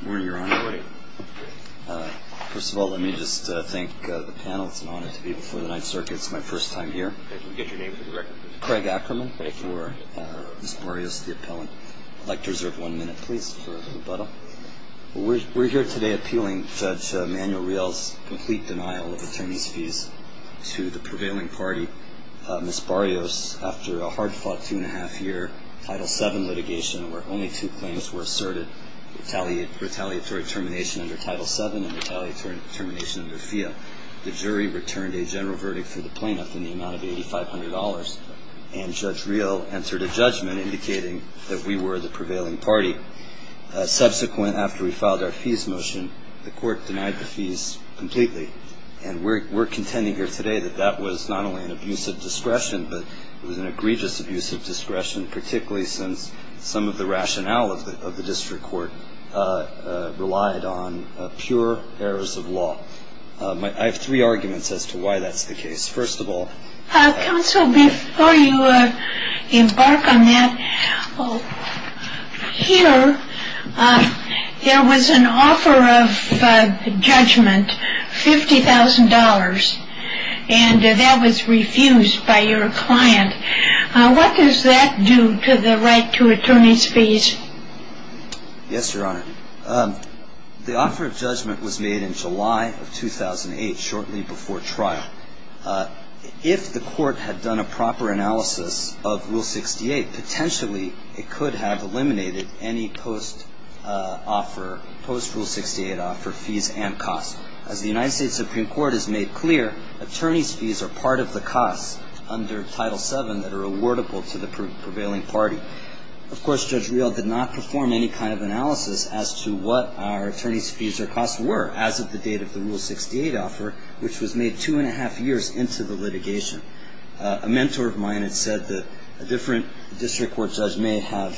Good morning, Your Honor. Good morning. First of all, let me just thank the panel. It's an honor to be before the Ninth Circuit. It's my first time here. Can we get your name for the record, please? Craig Ackerman for Ms. Barrios, the appellant. I'd like to reserve one minute, please, for rebuttal. We're here today appealing Judge Manuel Riel's complete denial of attorney's fees to the prevailing party. Ms. Barrios, after a hard-fought two-and-a-half-year Title VII litigation where only two claims were asserted, retaliatory termination under Title VII and retaliatory termination under FIA, the jury returned a general verdict for the plaintiff in the amount of $8,500, and Judge Riel entered a judgment indicating that we were the prevailing party. Subsequent, after we filed our fees motion, the court denied the fees completely. And we're contending here today that that was not only an abuse of discretion, but it was an egregious abuse of discretion, particularly since some of the rationale of the district court relied on pure errors of law. I have three arguments as to why that's the case. First of all, Counsel, before you embark on that, here there was an offer of judgment, $50,000, and that was refused by your client. What does that do to the right to attorney's fees? Yes, Your Honor. The offer of judgment was made in July of 2008, shortly before trial. If the court had done a proper analysis of Rule 68, potentially it could have eliminated any post-offer, post-Rule 68 offer fees and costs. As the United States Supreme Court has made clear, attorney's fees are part of the costs under Title VII that are awardable to the prevailing party. Of course, Judge Riel did not perform any kind of analysis as to what our attorney's fees or costs were, as of the date of the Rule 68 offer, which was made two and a half years into the litigation. A mentor of mine had said that a different district court judge may have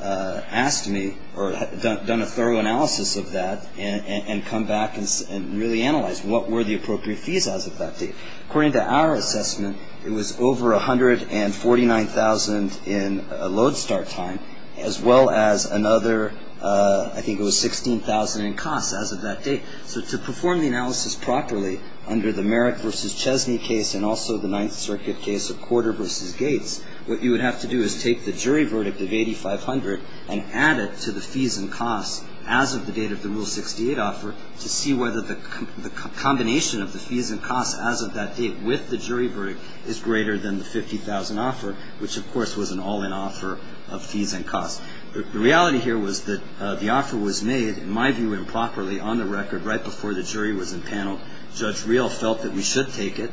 asked me, or done a thorough analysis of that and come back and really analyze what were the appropriate fees as of that date. According to our assessment, it was over $149,000 in load start time, as well as another, I think it was $16,000 in costs as of that date. So to perform the analysis properly under the Merrick v. Chesney case and also the Ninth Circuit case of Corder v. Gates, what you would have to do is take the jury verdict of $8,500 and add it to the fees and costs as of the date of the Rule 68 offer to see whether the combination of the fees and costs as of that date with the jury verdict is greater than the $50,000 offer, which, of course, was an all-in offer of fees and costs. The reality here was that the offer was made, in my view, improperly on the record right before the jury was impaneled. Judge Riel felt that we should take it.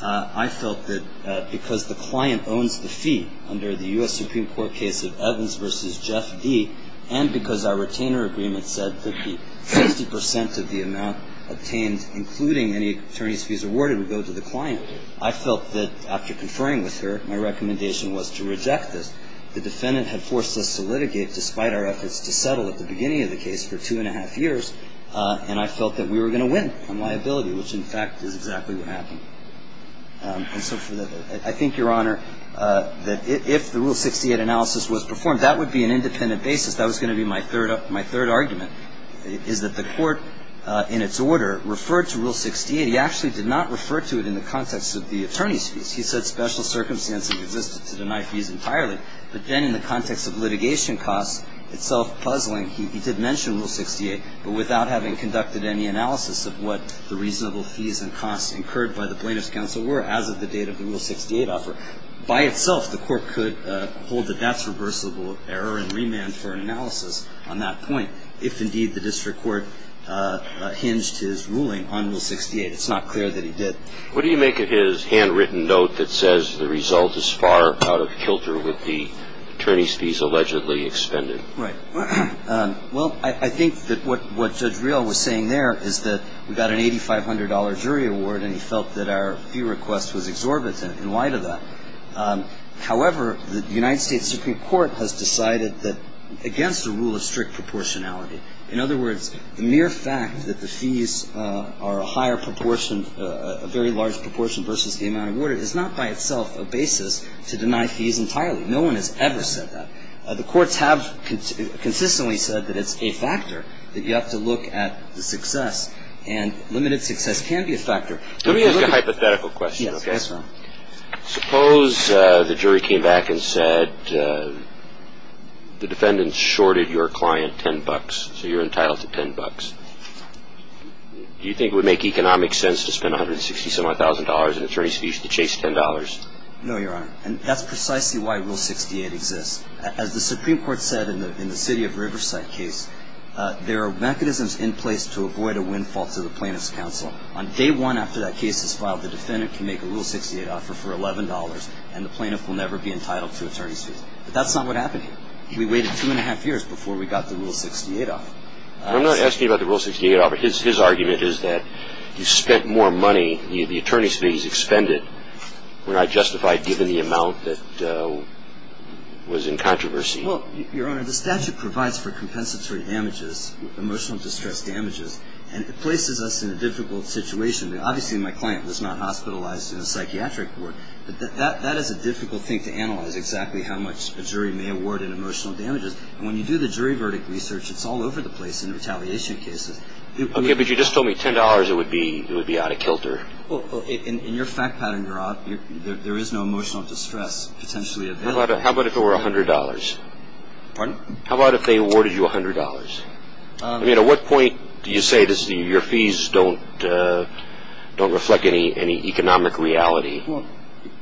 I felt that because the client owns the fee under the U.S. Supreme Court case of Evans v. Jeff D., and because our retainer agreement said that the 50% of the amount obtained, including any attorney's fees awarded, would go to the client, I felt that after conferring with her, my recommendation was to reject this. The defendant had forced us to litigate, despite our efforts to settle at the beginning of the case, for two and a half years, and I felt that we were going to win on liability, which, in fact, is exactly what happened. And so I think, Your Honor, that if the Rule 68 analysis was performed, that would be an independent basis. That was going to be my third argument, is that the Court, in its order, referred to Rule 68. It actually did not refer to it in the context of the attorney's fees. He said special circumstances existed to deny fees entirely. But then in the context of litigation costs itself puzzling, he did mention Rule 68, but without having conducted any analysis of what the reasonable fees and costs incurred by the plaintiff's counsel were as of the date of the Rule 68 offer. By itself, the Court could hold that that's reversible error and remand for an analysis on that point, if, indeed, the district court hinged his ruling on Rule 68. It's not clear that he did. What do you make of his handwritten note that says the result is far out of kilter with the attorney's fees allegedly expended? Right. Well, I think that what Judge Real was saying there is that we got an $8,500 jury award and he felt that our fee request was exorbitant in light of that. However, the United States Supreme Court has decided that against the rule of strict proportionality, in other words, the mere fact that the fees are a higher proportion, a very large proportion versus the amount awarded is not by itself a basis to deny fees entirely. No one has ever said that. The courts have consistently said that it's a factor, that you have to look at the success, and limited success can be a factor. Let me ask you a hypothetical question. Yes, Your Honor. Suppose the jury came back and said the defendant shorted your client $10, so you're entitled to $10. Do you think it would make economic sense to spend $160,000 in attorney's fees to chase $10? No, Your Honor. And that's precisely why Rule 68 exists. As the Supreme Court said in the City of Riverside case, there are mechanisms in place to avoid a windfall to the plaintiff's counsel. On day one after that case is filed, the defendant can make a Rule 68 offer for $11 and the plaintiff will never be entitled to attorney's fees. But that's not what happened here. We waited two and a half years before we got the Rule 68 offer. I'm not asking about the Rule 68 offer. His argument is that you spent more money, the attorney's fees expended, when I justified given the amount that was in controversy. Well, Your Honor, the statute provides for compensatory damages, emotional distress damages, and it places us in a difficult situation. Obviously, my client was not hospitalized in a psychiatric ward. That is a difficult thing to analyze, exactly how much a jury may award in emotional damages. And when you do the jury verdict research, it's all over the place in retaliation cases. Okay, but you just told me $10, it would be out of kilter. Well, in your fact pattern, Your Honor, there is no emotional distress potentially available. How about if it were $100? Pardon? How about if they awarded you $100? I mean, at what point do you say your fees don't reflect any economic reality? Well,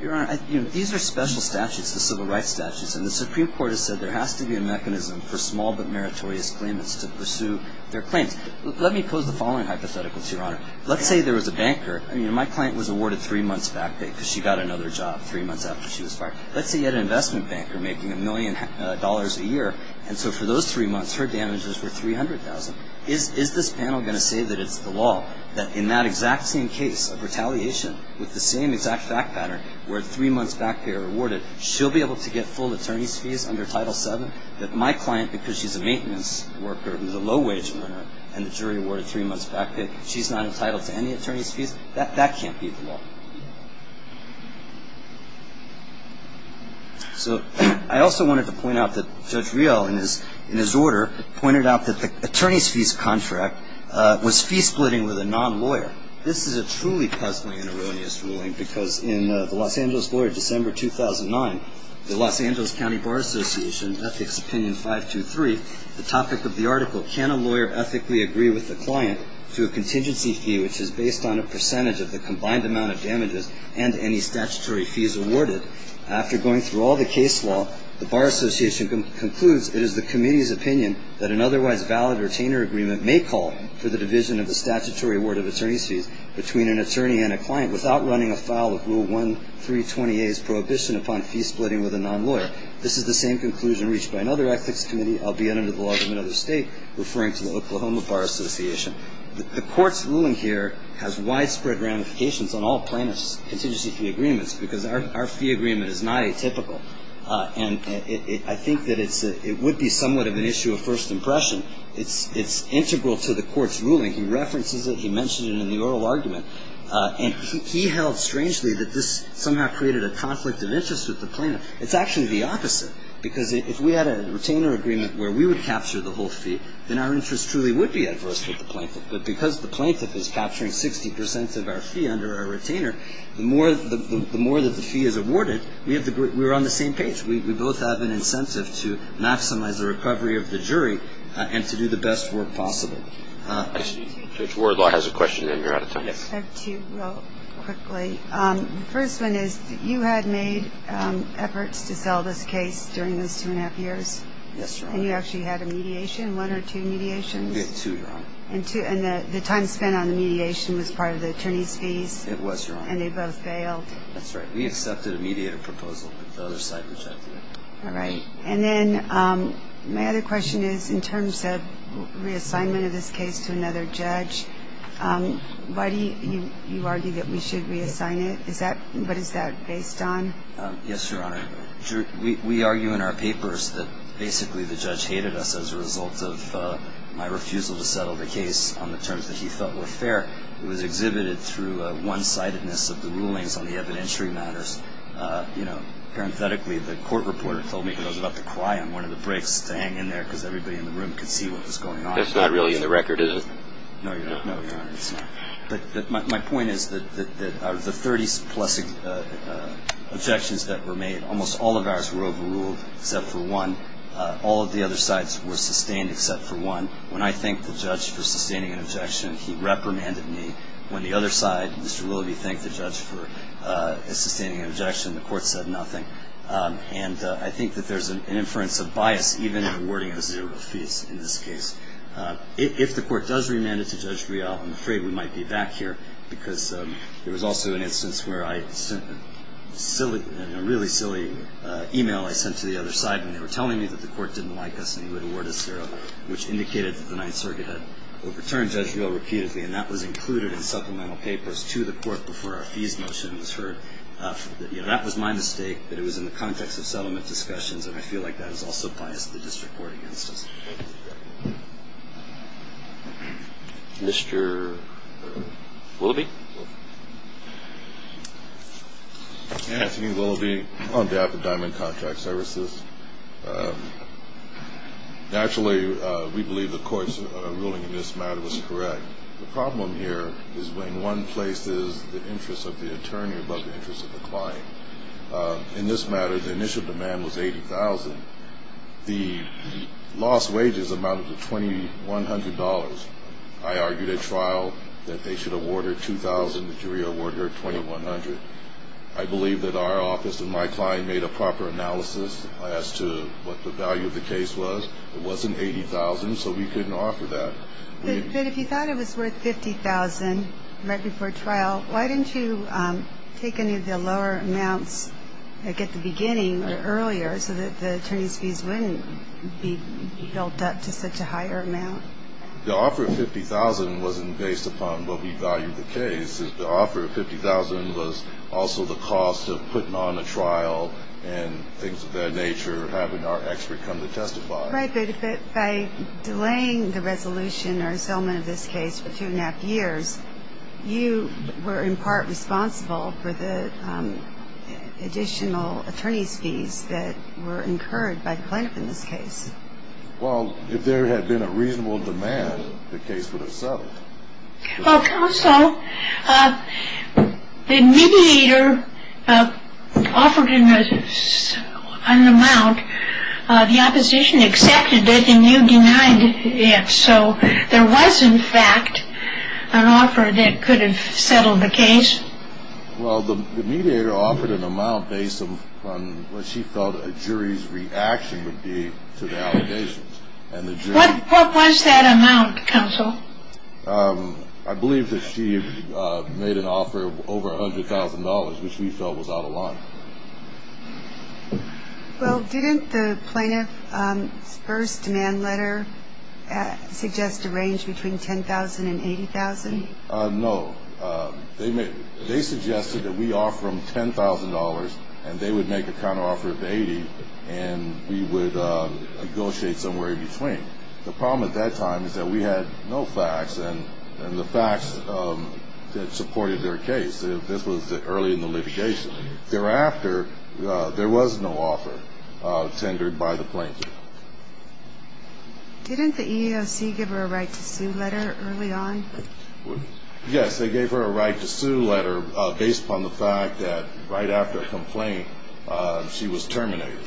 Your Honor, these are special statutes, the civil rights statutes, and the Supreme Court has said there has to be a mechanism for small but meritorious claimants to pursue their claims. Let me pose the following hypotheticals, Your Honor. Let's say there was a banker. I mean, my client was awarded three months' back pay because she got another job three months after she was fired. Let's say you had an investment banker making a million dollars a year, and so for those three months her damages were $300,000. Is this panel going to say that it's the law, that in that exact same case of retaliation with the same exact fact pattern where three months' back pay are awarded, she'll be able to get full attorney's fees under Title VII? That my client, because she's a maintenance worker who's a low-wage earner and the jury awarded three months' back pay, she's not entitled to any attorney's fees? That can't be the law. So I also wanted to point out that Judge Riel, in his order, pointed out that the attorney's fees contract was fee-splitting with a non-lawyer. This is a truly puzzling and erroneous ruling because in the Los Angeles Lawyer, December 2009, the Los Angeles County Bar Association, Ethics Opinion 523, the topic of the article, can a lawyer ethically agree with a client to a contingency fee which is based on a percentage of the combined amount of damages and any statutory fees awarded? After going through all the case law, the Bar Association concludes it is the committee's opinion that an otherwise valid retainer agreement may call for the division of the statutory award of attorney's fees between an attorney and a client without running afoul of Rule 1320A's prohibition upon fee-splitting with a non-lawyer. This is the same conclusion reached by another ethics committee. Albeit under the law of another state, referring to the Oklahoma Bar Association. The Court's ruling here has widespread ramifications on all plaintiff's contingency fee agreements because our fee agreement is not atypical. And I think that it would be somewhat of an issue of first impression. It's integral to the Court's ruling. He references it. He mentioned it in the oral argument. And he held, strangely, that this somehow created a conflict of interest with the plaintiff. It's actually the opposite. Because if we had a retainer agreement where we would capture the whole fee, then our interest truly would be at first with the plaintiff. But because the plaintiff is capturing 60 percent of our fee under our retainer, the more that the fee is awarded, we're on the same page. We both have an incentive to maximize the recovery of the jury and to do the best work possible. I see Judge Wardlaw has a question, and you're out of time. I have two real quickly. The first one is you had made efforts to sell this case during those two and a half years. Yes, Your Honor. And you actually had a mediation, one or two mediations? We had two, Your Honor. And the time spent on the mediation was part of the attorney's fees? It was, Your Honor. And they both failed? That's right. We accepted a mediator proposal, but the other side rejected it. All right. And then my other question is in terms of reassignment of this case to another judge, why do you argue that we should reassign it? What is that based on? Yes, Your Honor. We argue in our papers that basically the judge hated us as a result of my refusal to settle the case on the terms that he felt were fair. It was exhibited through one-sidedness of the rulings on the evidentiary matters. You know, parenthetically, the court reporter told me he was about to cry on one of the breaks to hang in there because everybody in the room could see what was going on. That's not really in the record, is it? No, Your Honor. It's not. But my point is that out of the 30-plus objections that were made, almost all of ours were overruled except for one. All of the other sides were sustained except for one. When I thanked the judge for sustaining an objection, he reprimanded me. When the other side, Mr. Willoughby, thanked the judge for sustaining an objection, the court said nothing. And I think that there's an inference of bias even in awarding us zero fees in this case. If the court does remand it to Judge Real, I'm afraid we might be back here because there was also an instance where I sent a really silly e-mail I sent to the other side and they were telling me that the court didn't like us and he would award us zero, which indicated that the Ninth Circuit had overturned Judge Real repeatedly, and that was included in supplemental papers to the court before our fees motion was heard. That was my mistake, but it was in the context of settlement discussions, and I feel like that is also biased in the district court instance. Mr. Willoughby? Thank you, Willoughby. I'm on behalf of Diamond Contract Services. Naturally, we believe the court's ruling in this matter was correct. The problem here is when one places the interest of the attorney above the interest of the client. In this matter, the initial demand was $80,000. The lost wages amounted to $2,100. I argued at trial that they should award her $2,000 and the jury awarded her $2,100. I believe that our office and my client made a proper analysis as to what the value of the case was. It wasn't $80,000, so we couldn't offer that. But if you thought it was worth $50,000 right before trial, why didn't you take any of the lower amounts at the beginning or earlier so that the attorney's fees wouldn't be built up to such a higher amount? The offer of $50,000 wasn't based upon what we valued the case. The offer of $50,000 was also the cost of putting on a trial and things of that nature, having our expert come to testify. By delaying the resolution or settlement of this case for two and a half years, you were in part responsible for the additional attorney's fees that were incurred by the plaintiff in this case. Well, if there had been a reasonable demand, the case would have settled. Counsel, the mediator offered an amount. The opposition accepted it, and you denied it. So there was, in fact, an offer that could have settled the case. Well, the mediator offered an amount based upon what she felt a jury's reaction would be to the allegations. What was that amount, counsel? I believe that she made an offer of over $100,000, which we felt was out of line. Well, didn't the plaintiff's first demand letter suggest a range between $10,000 and $80,000? No. They suggested that we offer them $10,000, and they would make a counteroffer of $80,000, and we would negotiate somewhere in between. The problem at that time is that we had no facts, and the facts supported their case. This was early in the litigation. Thereafter, there was no offer tendered by the plaintiff. Didn't the EEOC give her a right to sue letter early on? Yes, they gave her a right to sue letter based upon the fact that right after a complaint, she was terminated,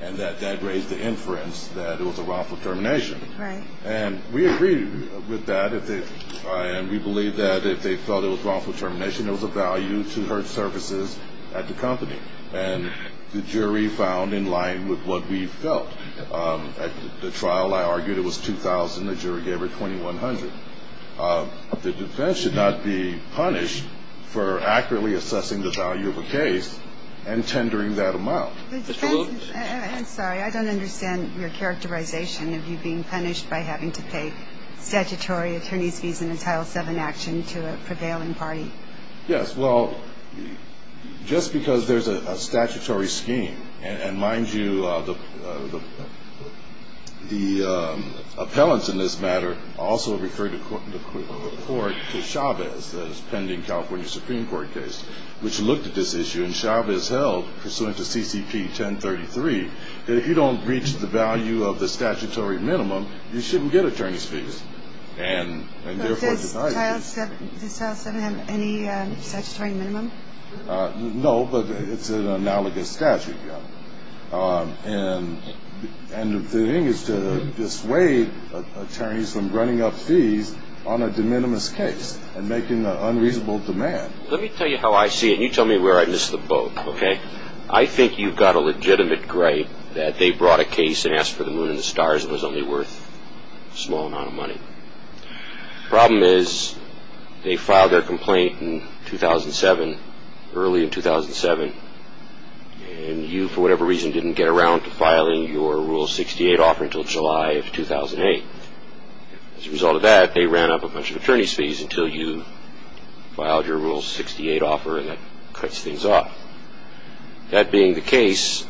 and that that raised the inference that it was a wrongful termination. Right. And we agreed with that, and we believed that if they felt it was wrongful termination, it was of value to her services at the company, and the jury found in line with what we felt. At the trial, I argued it was $2,000. The jury gave her $2,100. The defense should not be punished for accurately assessing the value of a case and tendering that amount. Mr. Lewis? I'm sorry. I don't understand your characterization of you being punished by having to pay statutory attorney's fees in a Title VII action to a prevailing party. Yes. Well, just because there's a statutory scheme, and mind you, the appellants in this matter also referred the court to Chavez pending California Supreme Court case, which looked at this issue, and Chavez held, pursuant to CCP 1033, that if you don't reach the value of the statutory minimum, you shouldn't get attorney's fees, and therefore denied it. Does Title VII have any statutory minimum? No, but it's an analogous statute. And the thing is to dissuade attorneys from running up fees on a de minimis case and making an unreasonable demand. Let me tell you how I see it, and you tell me where I missed the boat, okay? I think you've got a legitimate gripe that they brought a case and asked for the moon and the stars and it was only worth a small amount of money. The problem is they filed their complaint in 2007, early in 2007, and you, for whatever reason, didn't get around to filing your Rule 68 offer until July of 2008. As a result of that, they ran up a bunch of attorney's fees until you filed your Rule 68 offer, and that cuts things off. That being the case,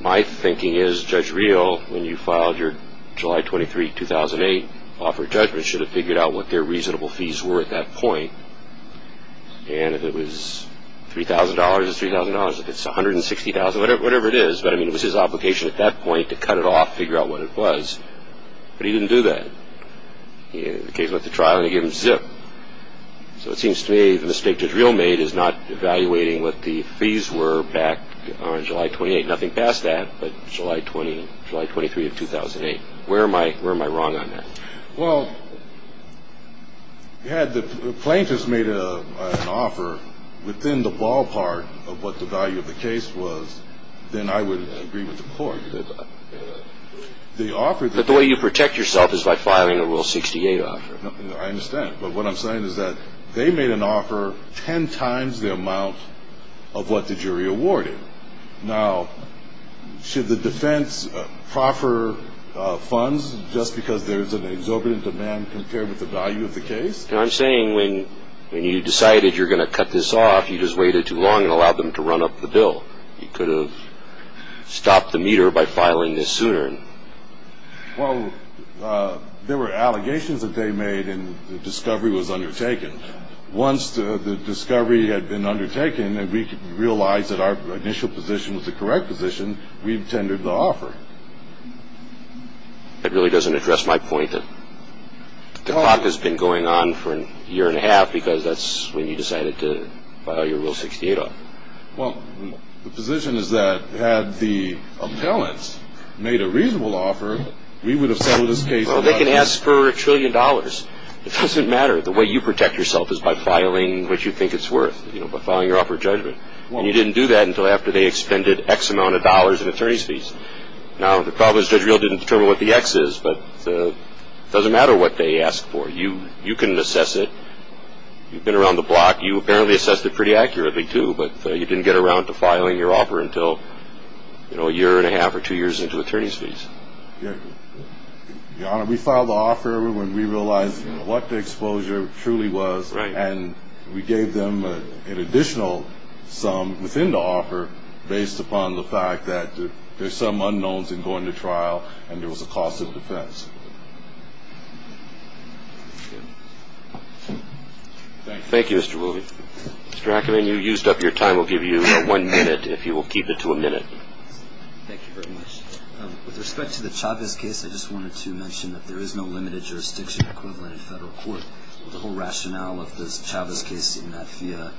my thinking is Judge Real, when you filed your July 23, 2008, offer judgment should have figured out what their reasonable fees were at that point. And if it was $3,000, it's $3,000. If it's $160,000, whatever it is. But, I mean, it was his obligation at that point to cut it off, figure out what it was. But he didn't do that. In the case with the trial, they gave him zip. So it seems to me the mistake Judge Real made is not evaluating what the fees were back on July 28. Nothing past that, but July 23, 2008. Where am I wrong on that? Well, had the plaintiffs made an offer within the ballpark of what the value of the case was, then I would agree with the court. But the way you protect yourself is by filing a Rule 68 offer. I understand. But what I'm saying is that they made an offer ten times the amount of what the jury awarded. Now, should the defense proffer funds just because there's an exorbitant demand compared with the value of the case? I'm saying when you decided you were going to cut this off, you just waited too long and allowed them to run up the bill. You could have stopped the meter by filing this sooner. Well, there were allegations that they made and the discovery was undertaken. Once the discovery had been undertaken and we realized that our initial position was the correct position, we tendered the offer. That really doesn't address my point that the clock has been going on for a year and a half because that's when you decided to file your Rule 68 off. Well, the position is that had the appellants made a reasonable offer, we would have settled this case. Well, they can ask for a trillion dollars. It doesn't matter. The way you protect yourself is by filing what you think it's worth, you know, by filing your offer of judgment. And you didn't do that until after they expended X amount of dollars in attorney's fees. Now, the problem is Judge Real didn't determine what the X is, but it doesn't matter what they asked for. You can assess it. You've been around the block. You apparently assessed it pretty accurately too, but you didn't get around to filing your offer until, you know, a year and a half or two years into attorney's fees. Yeah. Your Honor, we filed the offer when we realized what the exposure truly was. And we gave them an additional sum within the offer based upon the fact that there's some unknowns in going to trial and there was a cost of defense. Thank you. Thank you, Mr. Willoughby. Mr. Ackerman, you used up your time. We'll give you one minute if you will keep it to a minute. Thank you very much. With respect to the Chavez case, I just wanted to mention that there is no limited jurisdiction equivalent in federal court. The whole rationale of this Chavez case in that FIA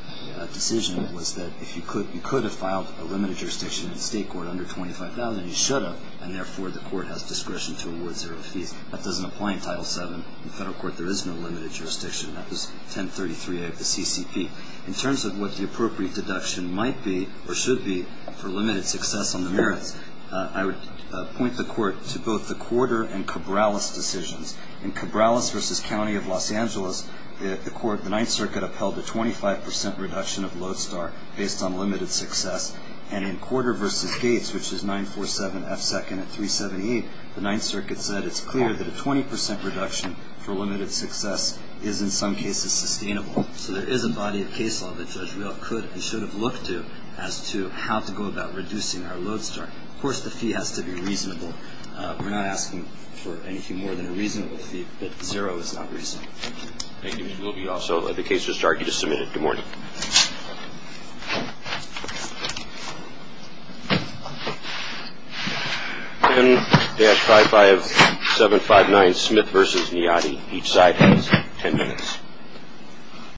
decision was that if you could have filed a limited jurisdiction in state court under $25,000, you should have, and therefore the court has discretion to award zero fees. That doesn't apply in Title VII. In federal court, there is no limited jurisdiction. That was 1033A of the CCP. In terms of what the appropriate deduction might be or should be for limited success on the merits, I would point the court to both the Corder and Cabrales decisions. In Cabrales v. County of Los Angeles, the court, the Ninth Circuit, upheld a 25% reduction of Lodestar based on limited success. And in Corder v. Gates, which is 947F2nd at 378, the Ninth Circuit said it's clear that a 20% reduction for limited success is in some cases sustainable. So there is a body of case law that Judge Real could and should have looked to as to how to go about reducing our Lodestar. Of course, the fee has to be reasonable. We're not asking for anything more than a reasonable fee, but zero is not reasonable. Thank you. We'll be also at the case restart. You just a minute. Good morning. Good morning. 10-55759 Smith v. Niadi. Each side has 10 minutes.